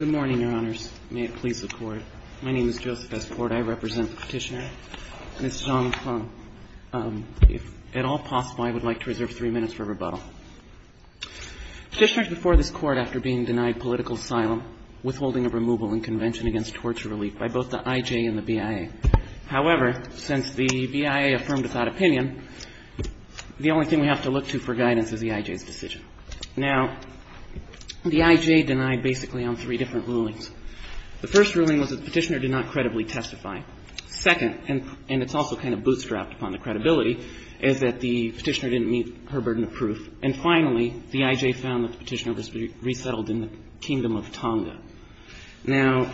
Good morning, Your Honors. May it please the Court. My name is Joseph S. Porte. I represent the Petitioner. Ms. Zhang Feng, if at all possible, I would like to reserve three minutes for rebuttal. Petitioners before this Court after being denied political asylum, withholding of removal and convention against torture relief by both the IJ and the BIA. However, since the BIA affirmed without opinion, the only thing we have to look to for guidance is the IJ's decision. Now, the IJ denied basically on three different rulings. The first ruling was that the Petitioner did not credibly testify. Second, and it's also kind of bootstrapped upon the credibility, is that the Petitioner didn't meet her burden of proof. And finally, the IJ found that the Petitioner was resettled in the kingdom of Tonga. Now,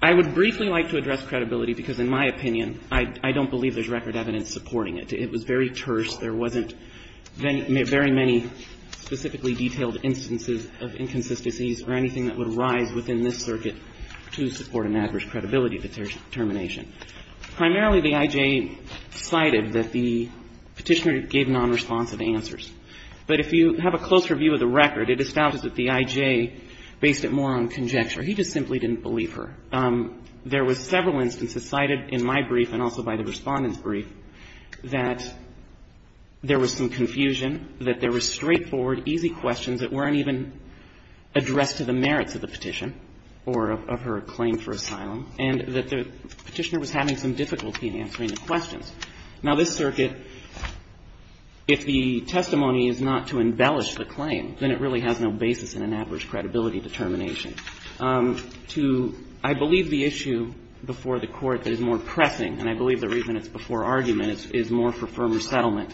I would briefly like to address credibility, because in my opinion, I don't believe there's record evidence supporting it. It was very terse. There wasn't very many specifically detailed instances of inconsistencies or anything that would rise within this circuit to support an adverse credibility determination. Primarily, the IJ cited that the Petitioner gave nonresponsive answers. But if you have a closer view of the record, it establishes that the IJ based it more on conjecture. He just simply didn't believe her. There was several instances cited in my brief and also by the Respondent's brief that there was some confusion, that there were straightforward, easy questions that weren't even addressed to the merits of the Petition or of her claim for asylum, and that the Petitioner was having some difficulty in answering the questions. Now, this circuit, if the testimony is not to embellish the claim, then it really has no basis in an adverse credibility determination. To, I believe, the issue before the Court that is more pressing, and I believe the reason it's before argument, is more for firmer settlement.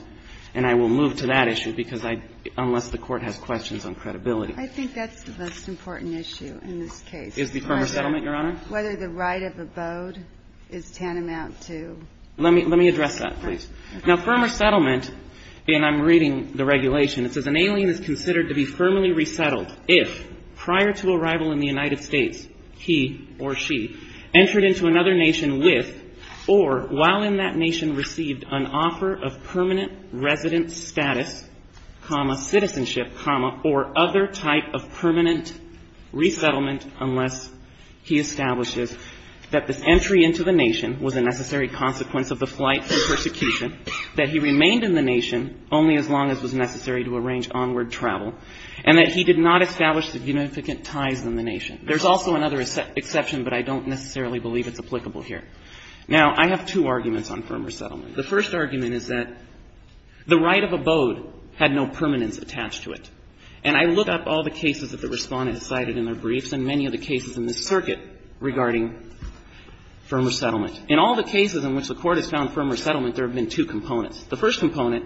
And I will move to that issue because I, unless the Court has questions on credibility. I think that's the most important issue in this case. Is the firmer settlement, Your Honor? Whether the right of abode is tantamount to. Let me address that, please. Now, firmer settlement, and I'm reading the regulation, it says an alien is considered to be firmly resettled if prior to arrival in the United States, he or she entered into another nation with or while in that nation received an offer of permanent resident status, comma, citizenship, comma, or other type of permanent resettlement unless he establishes that this entry into the nation was a necessary consequence of the flight and persecution, that he remained in the nation only as long as was necessary to arrange onward travel, and that he did not establish significant ties in the nation. There's also another exception, but I don't necessarily believe it's applicable here. Now, I have two arguments on firmer settlement. The first argument is that the right of abode had no permanence attached to it. And I look up all the cases that the Respondents cited in their briefs and many of the cases in this circuit regarding firmer settlement. In all the cases in which the Court has found firmer settlement, there have been two components. The first component,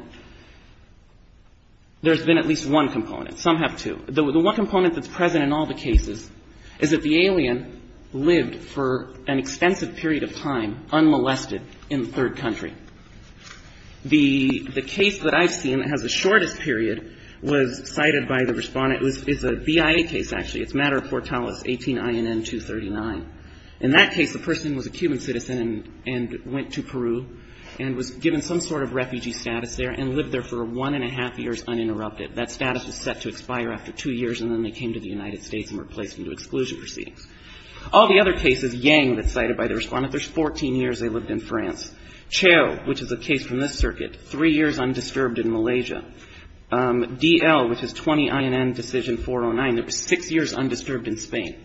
there's been at least one component. Some have two. The one component that's present in all the cases is that the alien lived for an extensive period of time unmolested in the third country. The case that I've seen that has the shortest period was cited by the Respondent. It's a BIA case, actually. It's Matter of Fortales, 18 INN 239. In that case, the person was a Cuban citizen and went to Peru and was given some sort of refugee status there and lived there for one and a half years uninterrupted. That status was set to expire after two years and then they came to the United States and were placed into exclusion proceedings. All the other cases, Yang, that's cited by the Respondent, there's 14 years they lived in France. Cheo, which is a case from this circuit, three years undisturbed in Malaysia. DL, which is 20 INN Decision 409, there was six years undisturbed in Spain.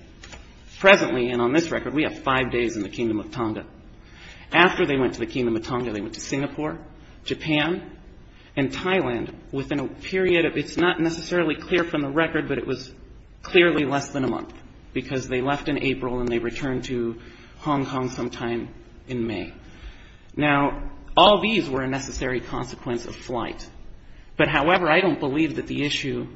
Presently, and on this record, we have five days in the Kingdom of Tonga. After they went to the Kingdom of Tonga, they went to Singapore, Japan, and Thailand within a period of, it's not necessarily clear from the record, but it was clearly less than a month because they left in April and they returned to Hong Kong sometime in May. Now, all these were a necessary consequence of flight. But, however, I don't believe that the issue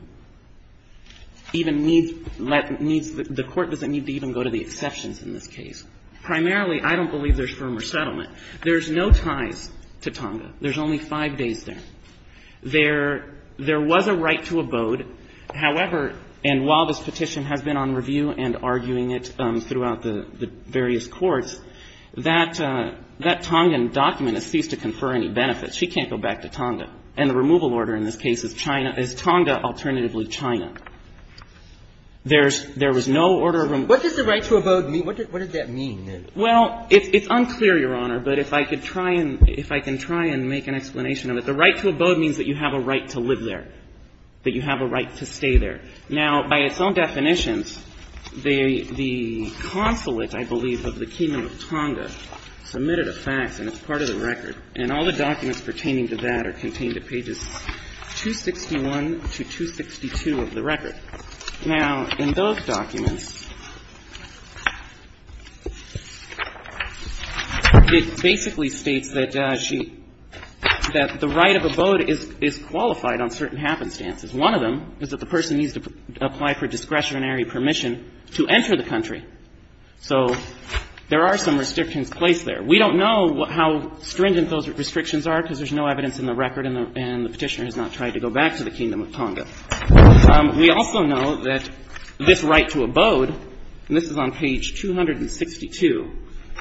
even needs, the Court doesn't need to even go to the exceptions in this case. Primarily, I don't believe there's firmer settlement. There's no ties to Tonga. There's only five days there. There was a right to abode. However, and while this petition has been on review and arguing it throughout the various courts, that Tongan document has ceased to confer any benefits. She can't go back to Tonga. And the removal order in this case is Tonga, alternatively China. There was no order of removal. What does the right to abode mean? What does that mean? Well, it's unclear, Your Honor, but if I could try and make an explanation of it, the right to abode means that you have a right to live there, that you have a right to stay there. Now, by its own definitions, the consulate, I believe, of the Kingdom of Tonga submitted a fax, and it's part of the record, and all the documents pertaining to that are contained at pages 261 to 262 of the record. Now, in those documents, it basically states that she, that the right of abode is qualified on certain happenstances. One of them is that the person needs to apply for discretionary permission to enter the country. So there are some restrictions placed there. We don't know how stringent those restrictions are because there's no evidence in the record, and the Petitioner has not tried to go back to the Kingdom of Tonga. We also know that this right to abode, and this is on page 262,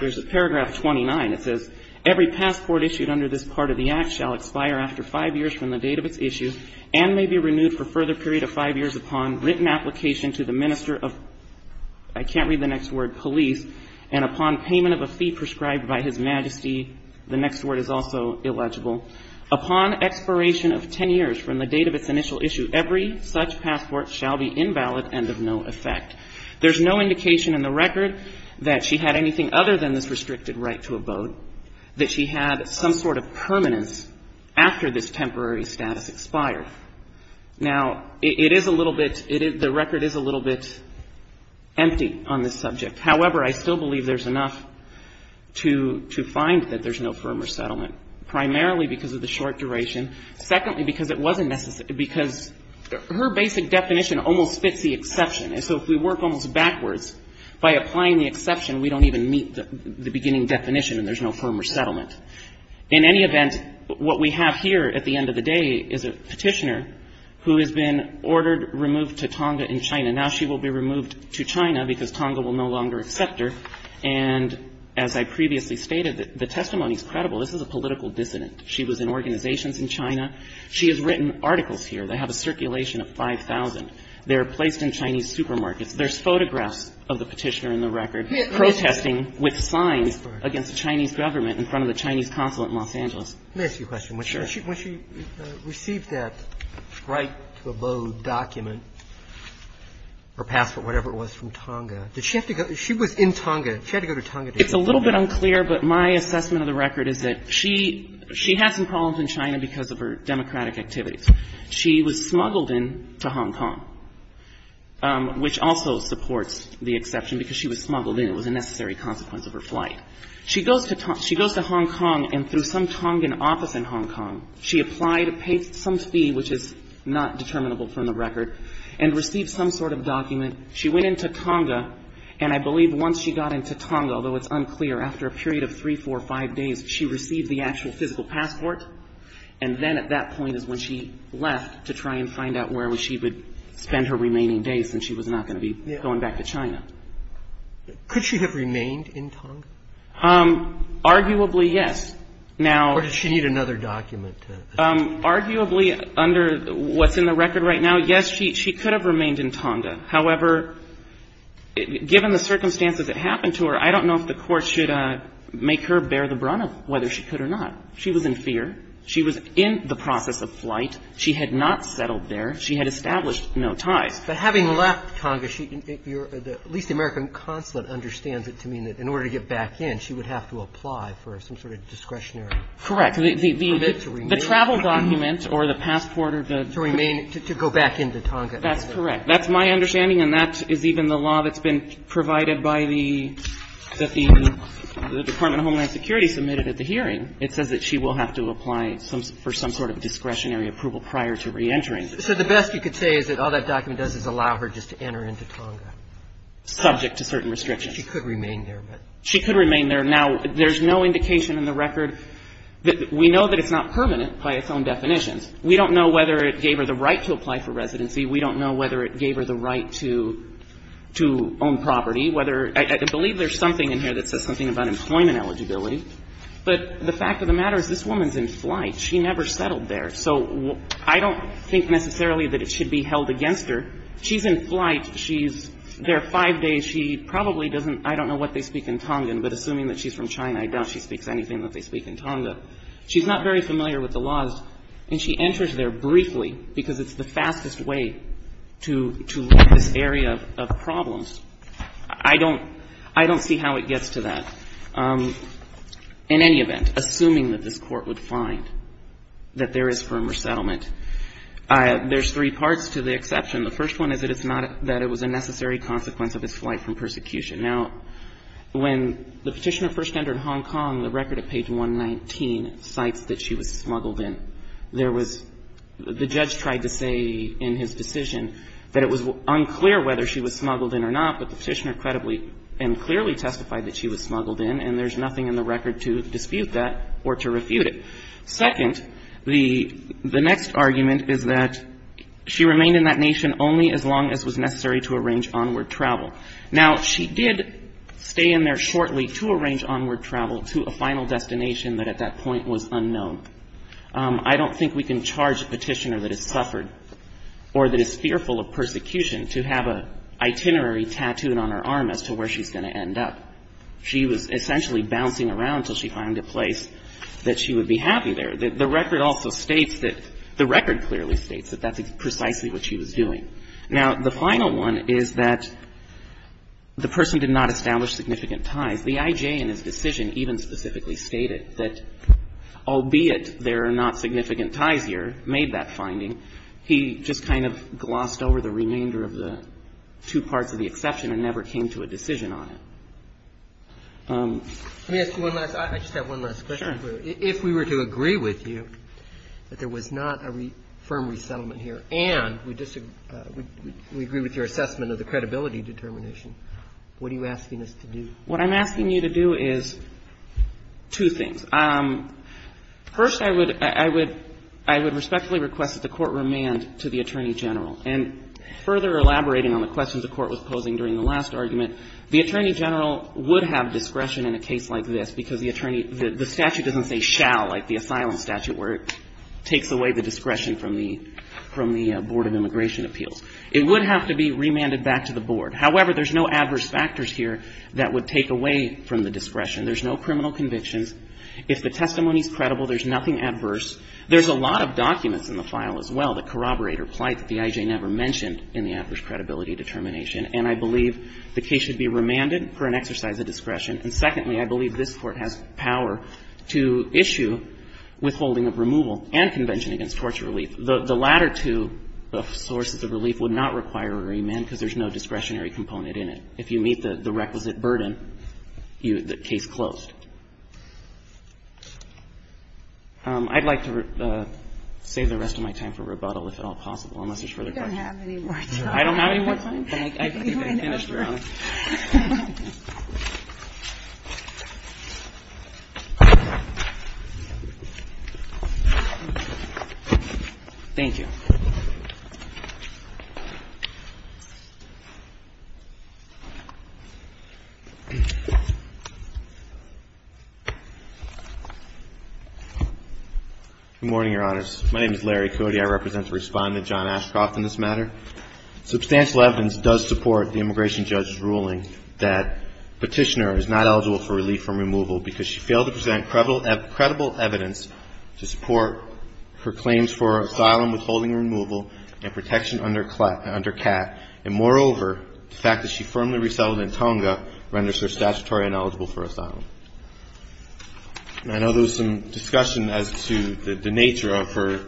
there's a paragraph 29. It says, every passport issued under this part of the Act shall expire after five years from the date of its issue, and may be renewed for a further period of five years upon written application to the minister of, I can't read the next word, police, and upon payment of a fee prescribed by His Majesty, the next word is also legible, upon expiration of ten years from the date of its initial issue, every such passport shall be invalid and of no effect. There's no indication in the record that she had anything other than this restricted right to abode, that she had some sort of permanence after this temporary status expired. Now, it is a little bit, the record is a little bit empty on this subject. However, I still believe there's enough to find that there's no firmer settlement, primarily because of the short duration. Secondly, because it wasn't necessary, because her basic definition almost fits the exception, and so if we work almost backwards by applying the exception, we don't even meet the beginning definition and there's no firmer settlement. In any event, what we have here at the end of the day is a Petitioner who has been ordered removed to Tonga in China. Now she will be removed to China because Tonga will no longer accept her. And as I previously stated, the testimony is credible. This is a political dissident. She was in organizations in China. She has written articles here. They have a circulation of 5,000. They're placed in Chinese supermarkets. There's photographs of the Petitioner in the record protesting with signs against the Chinese government in front of the Chinese consulate in Los Angeles. Let me ask you a question. Sure. When she received that right to abode document or passport, whatever it was, from Tonga, did she have to go? She was in Tonga. She had to go to Tonga to get that? It's a little bit unclear, but my assessment of the record is that she had some problems in China because of her democratic activities. She was smuggled into Hong Kong, which also supports the exception, because she was smuggled in. It was a necessary consequence of her flight. She goes to Hong Kong and through some Tongan office in Hong Kong, she applied to pay some fee, which is not determinable from the record, and received some sort of document. She went into Tonga, and I believe once she got into Tonga, although it's unclear, after a period of three, four, five days, she received the actual physical passport. And then at that point is when she left to try and find out where she would spend her remaining days since she was not going to be going back to China. Could she have remained in Tonga? Arguably, yes. Or did she need another document? Arguably, under what's in the record right now, yes, she could have remained in Tonga. However, given the circumstances that happened to her, I don't know if the Court should make her bear the brunt of whether she could or not. She was in fear. She was in the process of flight. She had not settled there. She had established no ties. But having left Tonga, at least the American consulate understands it to mean that in order to get back in, she would have to apply for some sort of discretionary permit to remain. Correct. The travel document or the passport or the ---- To remain, to go back into Tonga. That's correct. That's my understanding, and that is even the law that's been provided by the, that the Department of Homeland Security submitted at the hearing. It says that she will have to apply for some sort of discretionary approval prior to reentering. So the best you could say is that all that document does is allow her just to enter into Tonga. Subject to certain restrictions. She could remain there, but ---- She could remain there. Now, there's no indication in the record that we know that it's not permanent by its own definitions. We don't know whether it gave her the right to apply for residency. We don't know whether it gave her the right to own property, whether ---- I believe there's something in here that says something about employment eligibility. But the fact of the matter is this woman's in flight. She never settled there. So I don't think necessarily that it should be held against her. She's in flight. She's there five days. She probably doesn't ---- I don't know what they speak in Tongan, but assuming that she's from China, I doubt she speaks anything that they speak in Tonga. She's not very familiar with the laws. And she enters there briefly because it's the fastest way to, to look at this area of, of problems. I don't, I don't see how it gets to that. In any event, assuming that this Court would find that there is firmer settlement, there's three parts to the exception. The first one is that it's not, that it was a necessary consequence of his flight from persecution. Now, when the Petitioner first entered Hong Kong, the record at page 119 cites that she was smuggled in. There was, the judge tried to say in his decision that it was unclear whether she was smuggled in or not, but the Petitioner credibly and clearly testified that she was smuggled in, and there's nothing in the record to dispute that or to refute it. Second, the, the next argument is that she remained in that nation only as long as was necessary to arrange onward travel. Now, she did stay in there shortly to arrange onward travel to a final destination that at that point was unknown. I don't think we can charge a Petitioner that has suffered or that is fearful of persecution to have a itinerary tattooed on her arm as to where she's going to end up. She was essentially bouncing around until she found a place that she would be happy there. The record also states that, the record clearly states that that's precisely what she was doing. Now, the final one is that the person did not establish significant ties. The I.J. in his decision even specifically stated that albeit there are not significant ties here, made that finding, he just kind of glossed over the remainder of the two parts of the exception and never came to a decision on it. Let me ask you one last, I just have one last question. Sure. If we were to agree with you that there was not a firm resettlement here and we disagree with your assessment of the credibility determination, what are you asking us to do? What I'm asking you to do is two things. First, I would, I would, I would respectfully request that the Court remand to the Attorney General. And further elaborating on the questions the Court was posing during the last argument, the Attorney General would have discretion in a case like this because the attorney, the statute doesn't say shall like the asylum statute where it takes away the discretion from the, from the Board of Immigration Appeals. It would have to be remanded back to the Board. However, there's no adverse factors here that would take away from the discretion. There's no criminal convictions. If the testimony's credible, there's nothing adverse. There's a lot of documents in the file as well that corroborate or plight that the I.J. never mentioned in the adverse credibility determination. And I believe the case should be remanded for an exercise of discretion. And secondly, I believe this Court has power to issue withholding of removal and convention against torture relief. The latter two sources of relief would not require a remand because there's no discretionary component in it. If you meet the requisite burden, the case closed. I'd like to save the rest of my time for rebuttal, if at all possible, unless there's further questions. I don't have any more time, but I think I've finished around. Thank you. Good morning, Your Honors. My name is Larry Cody. I represent the Respondent, John Ashcroft, in this matter. Substantial evidence does support the immigration judge's ruling that petitioner is not eligible for relief from removal because she failed to present credible evidence to support her claims for asylum, withholding removal, and protection under CAT. And moreover, the fact that she firmly resettled in Tonga renders her statutory ineligible for asylum. I know there was some discussion as to the nature of her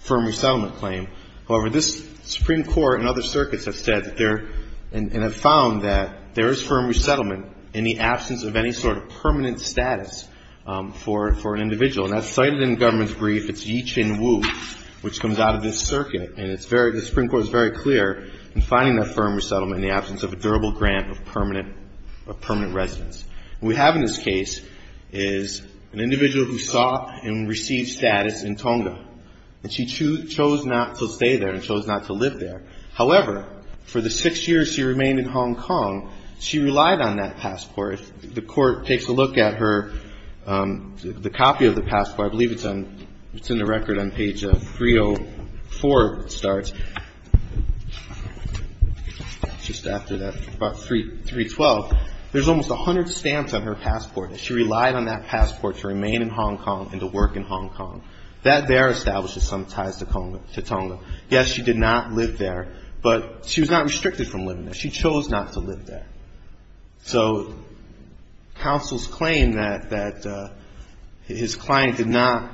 firm resettlement claim. However, this Supreme Court and other circuits have said that they're – and have found that there is firm resettlement in the absence of any sort of permanent status for an individual. And that's cited in the government's brief. It's Yi Chin Wu, which comes out of this circuit. And it's very – the Supreme Court is very clear in finding that firm resettlement in the absence of a durable grant of permanent residence. What we have in this case is an individual who saw and received status in Tonga. And she chose not to stay there and chose not to live there. However, for the six years she remained in Hong Kong, she relied on that passport. The Court takes a look at her – the copy of the passport. I believe it's on – it's in the record on page 304, it starts. Just after that, about 312. There's almost 100 stamps on her passport. She relied on that passport to remain in Hong Kong and to work in Hong Kong. That there establishes some ties to Tonga. Yes, she did not live there, but she was not restricted from living there. She chose not to live there. So counsel's claim that his client did not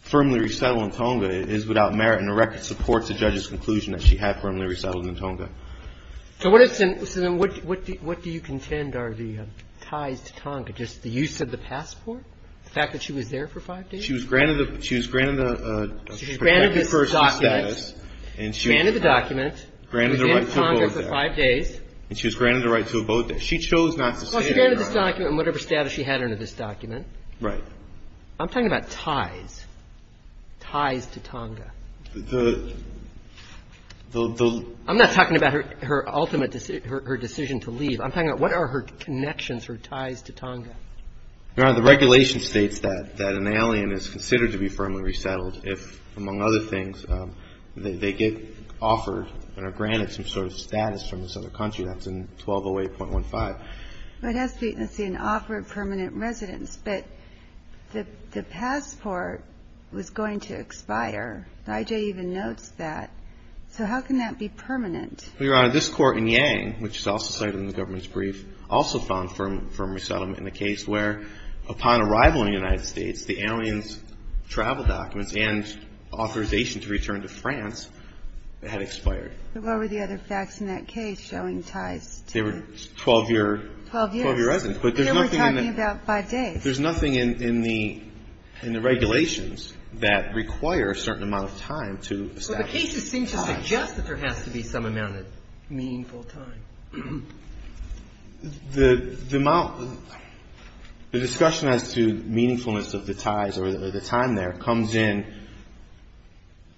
firmly resettle in Tonga is without merit and the record supports the judge's conclusion that she had firmly resettled in Tonga. So what is – so then what do you contend are the ties to Tonga? Just the use of the passport? The fact that she was there for five days? She was granted the – she was granted the – She was granted the document. Granted the document. Granted the right to abode there. She was in Tonga for five days. And she was granted the right to abode there. She chose not to stay there. Well, she granted this document and whatever status she had under this document. Right. I'm talking about ties. Ties to Tonga. The – the – I'm not talking about her ultimate – her decision to leave. I'm talking about what are her connections, her ties to Tonga. Your Honor, the regulation states that an alien is considered to be firmly resettled if, among other things, they get offered and are granted some sort of status from this other country. That's in 1208.15. Well, it has to be an offer of permanent residence. But the passport was going to expire. The I.J. even notes that. So how can that be permanent? Well, Your Honor, this court in Yang, which is also cited in the government's brief, also found firm resettlement in the case where, upon arrival in the United States, the alien's travel documents and authorization to return to France had expired. But what were the other facts in that case showing ties to – They were 12-year – 12-year residence. But there's nothing in the – They were talking about five days. There's nothing in the – in the regulations that require a certain amount of time to establish. But the cases seem to suggest that there has to be some amount of meaningful time. The amount – the discussion as to meaningfulness of the ties or the time there comes in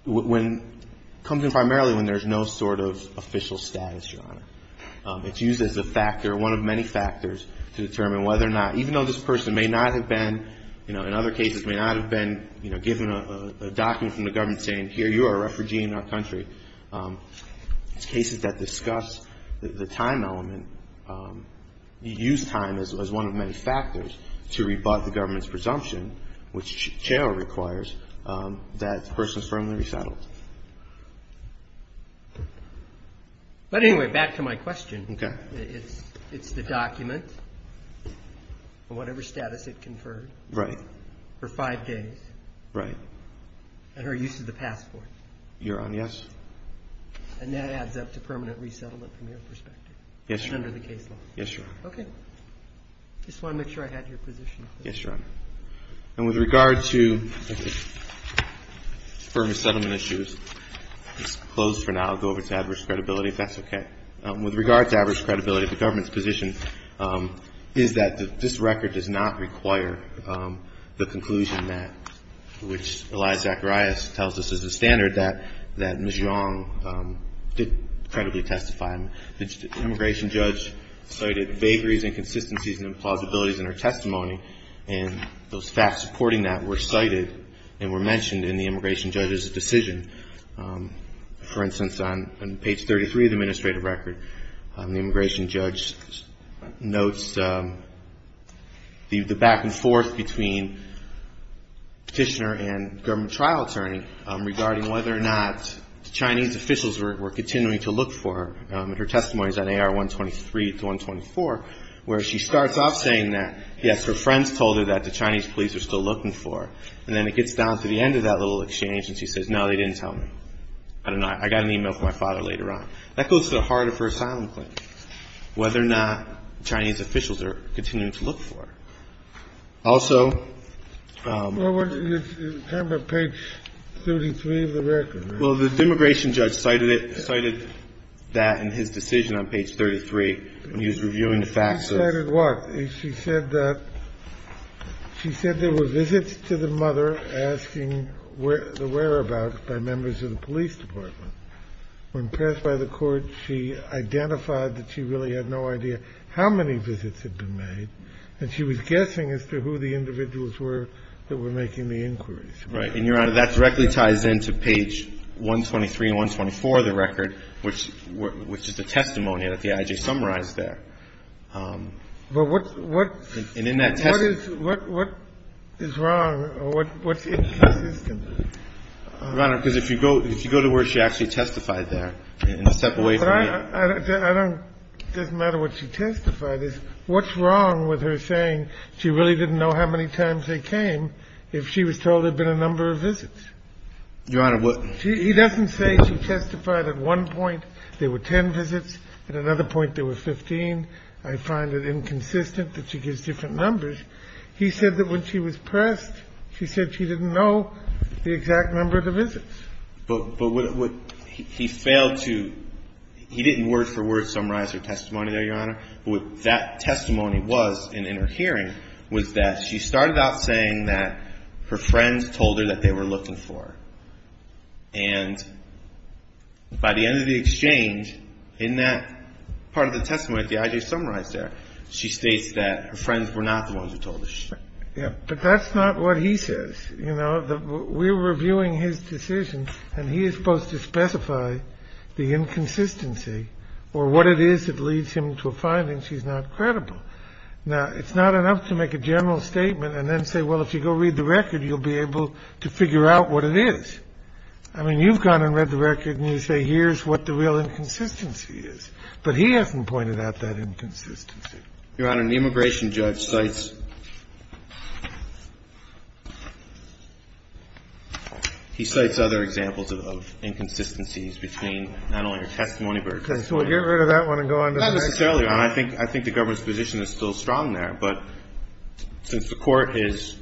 when – comes in primarily when there's no sort of official status, Your Honor. It's used as a factor, one of many factors, to determine whether or not – even though this person may not have been, you know, in other cases, may not have been, you know, given a document from the government saying, here, you are a refugee in our country. It's cases that discuss the time element. You use time as one of many factors to rebut the government's presumption, which Chair requires, that the person is firmly resettled. But anyway, back to my question. Okay. It's the document or whatever status it conferred. Right. For five days. Right. And her use of the passport. Your Honor, yes. And that adds up to permanent resettlement from your perspective. Yes, Your Honor. And under the case law. Yes, Your Honor. Okay. I just wanted to make sure I had your position. Yes, Your Honor. And with regard to permanent settlement issues – it's closed for now. I'll go over to average credibility, if that's okay. With regard to average credibility, the government's position is that this record does not require the conclusion that – which Elia Zacharias tells us is the standard that Ms. Young did credibly testify. The immigration judge cited vagaries, inconsistencies, and implausibilities in her testimony. And those facts supporting that were cited and were mentioned in the immigration judge's decision. For instance, on page 33 of the administrative record, the immigration judge notes the back and forth between petitioner and government trial attorney regarding whether or not the Chinese officials were continuing to look for her in her testimonies on AR-123 to 124, where she starts off saying that, yes, her friends told her that the Chinese police were still looking for her. And then it gets down to the end of that little exchange and she says, no, they didn't tell me. I don't know. I got an email from my father later on. That goes to the heart of her asylum claim, whether or not the Chinese officials are continuing to look for her. Also – Well, you're talking about page 33 of the record. Well, the immigration judge cited that in his decision on page 33 when he was reviewing the facts. He cited what? She said that – she said there were visits to the mother asking the whereabouts by members of the police department. When passed by the court, she identified that she really had no idea how many visits had been made, and she was guessing as to who the individuals were that were making the inquiries. Right. And, Your Honor, that directly ties into page 123 and 124 of the record, which is the testimony that the I.J. summarized there. But what – And in that testimony – What is wrong or what's inconsistent? Your Honor, because if you go to where she actually testified there and step away from the – But I don't – it doesn't matter what she testified. What's wrong with her saying she really didn't know how many times they came if she was told there had been a number of visits? Your Honor, what – He doesn't say she testified at one point there were 10 visits, at another point there were 15. I find it inconsistent that she gives different numbers. He said that when she was pressed, she said she didn't know the exact number of the visits. But what – he failed to – he didn't word for word summarize her testimony there, Your Honor. But what that testimony was in her hearing was that she started out saying that her friends told her that they were looking for her. And by the end of the exchange, in that part of the testimony that the I.J. summarized there, she states that her friends were not the ones who told her. But that's not what he says. You know, we're reviewing his decision and he is supposed to specify the inconsistency or what it is that leads him to a finding she's not credible. Now, it's not enough to make a general statement and then say, well, if you go read the record, you'll be able to figure out what it is. I mean, you've gone and read the record and you say here's what the real inconsistency is. But he hasn't pointed out that inconsistency. Your Honor, the immigration judge cites – he cites other examples of inconsistencies between not only her testimony, but her testimony. Okay. So we'll get rid of that one and go on to the next one. Not necessarily, Your Honor. I think the government's position is still strong there, but since the Court is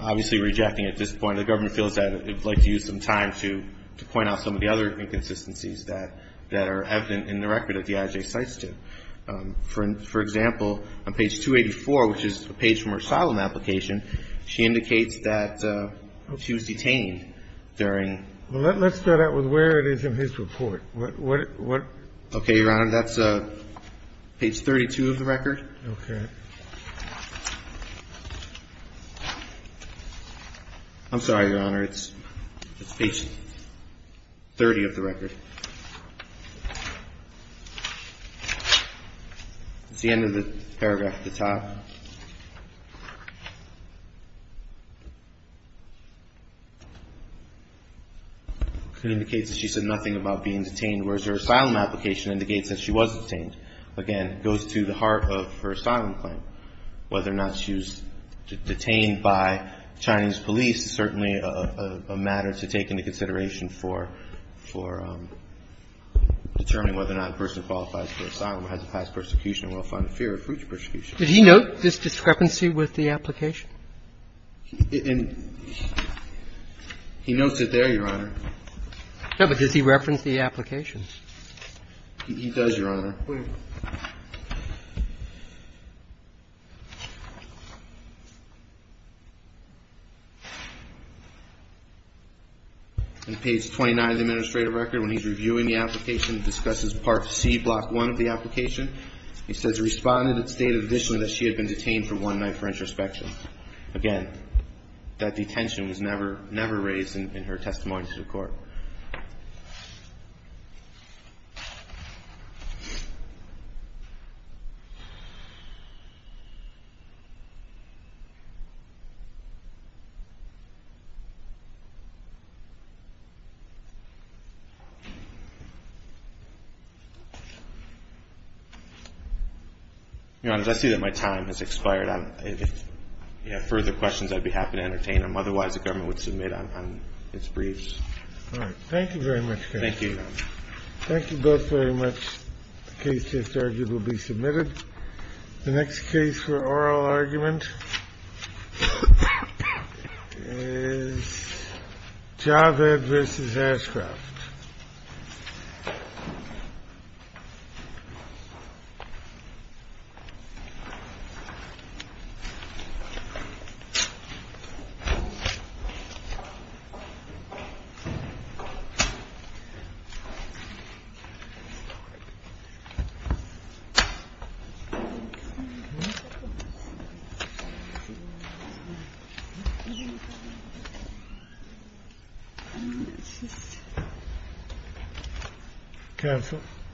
obviously rejecting at this point, the government feels that it would like to use some time to point out some of the other inconsistencies that are evident in the record that the IJ cites to. For example, on page 284, which is the page from her asylum application, she indicates that she was detained during – Well, let's start out with where it is in his report. What – what – Okay, Your Honor. That's page 32 of the record. Okay. I'm sorry, Your Honor. It's – it's page 30 of the record. It's the end of the paragraph at the top. It indicates that she said nothing about being detained, whereas her asylum application indicates that she was detained. Again, it goes to the heart of her asylum claim. Whether or not she was detained by Chinese police is certainly a matter to take into consideration for – for determining whether or not a person qualifies for asylum or has a past persecution and will find a fear of future persecution. Did he note this discrepancy with the application? He notes it there, Your Honor. No, but does he reference the application? He does, Your Honor. Please. On page 29 of the administrative record, when he's reviewing the application, he discusses Part C, Block 1 of the application. He says, Respondent stated additionally that she had been detained for one night for introspection. in her testimony to the court. Your Honor, did my time expire. Thank you, Your Honor. If you have further questions, I'd be happy to entertain them. Otherwise, the government would submit on its briefs. All right, thank you very much, Kenneth. Thank you, Your Honor. Thank you both very much. The case just argued will be submitted. The next case for oral argument is Javed v. Ashcroft.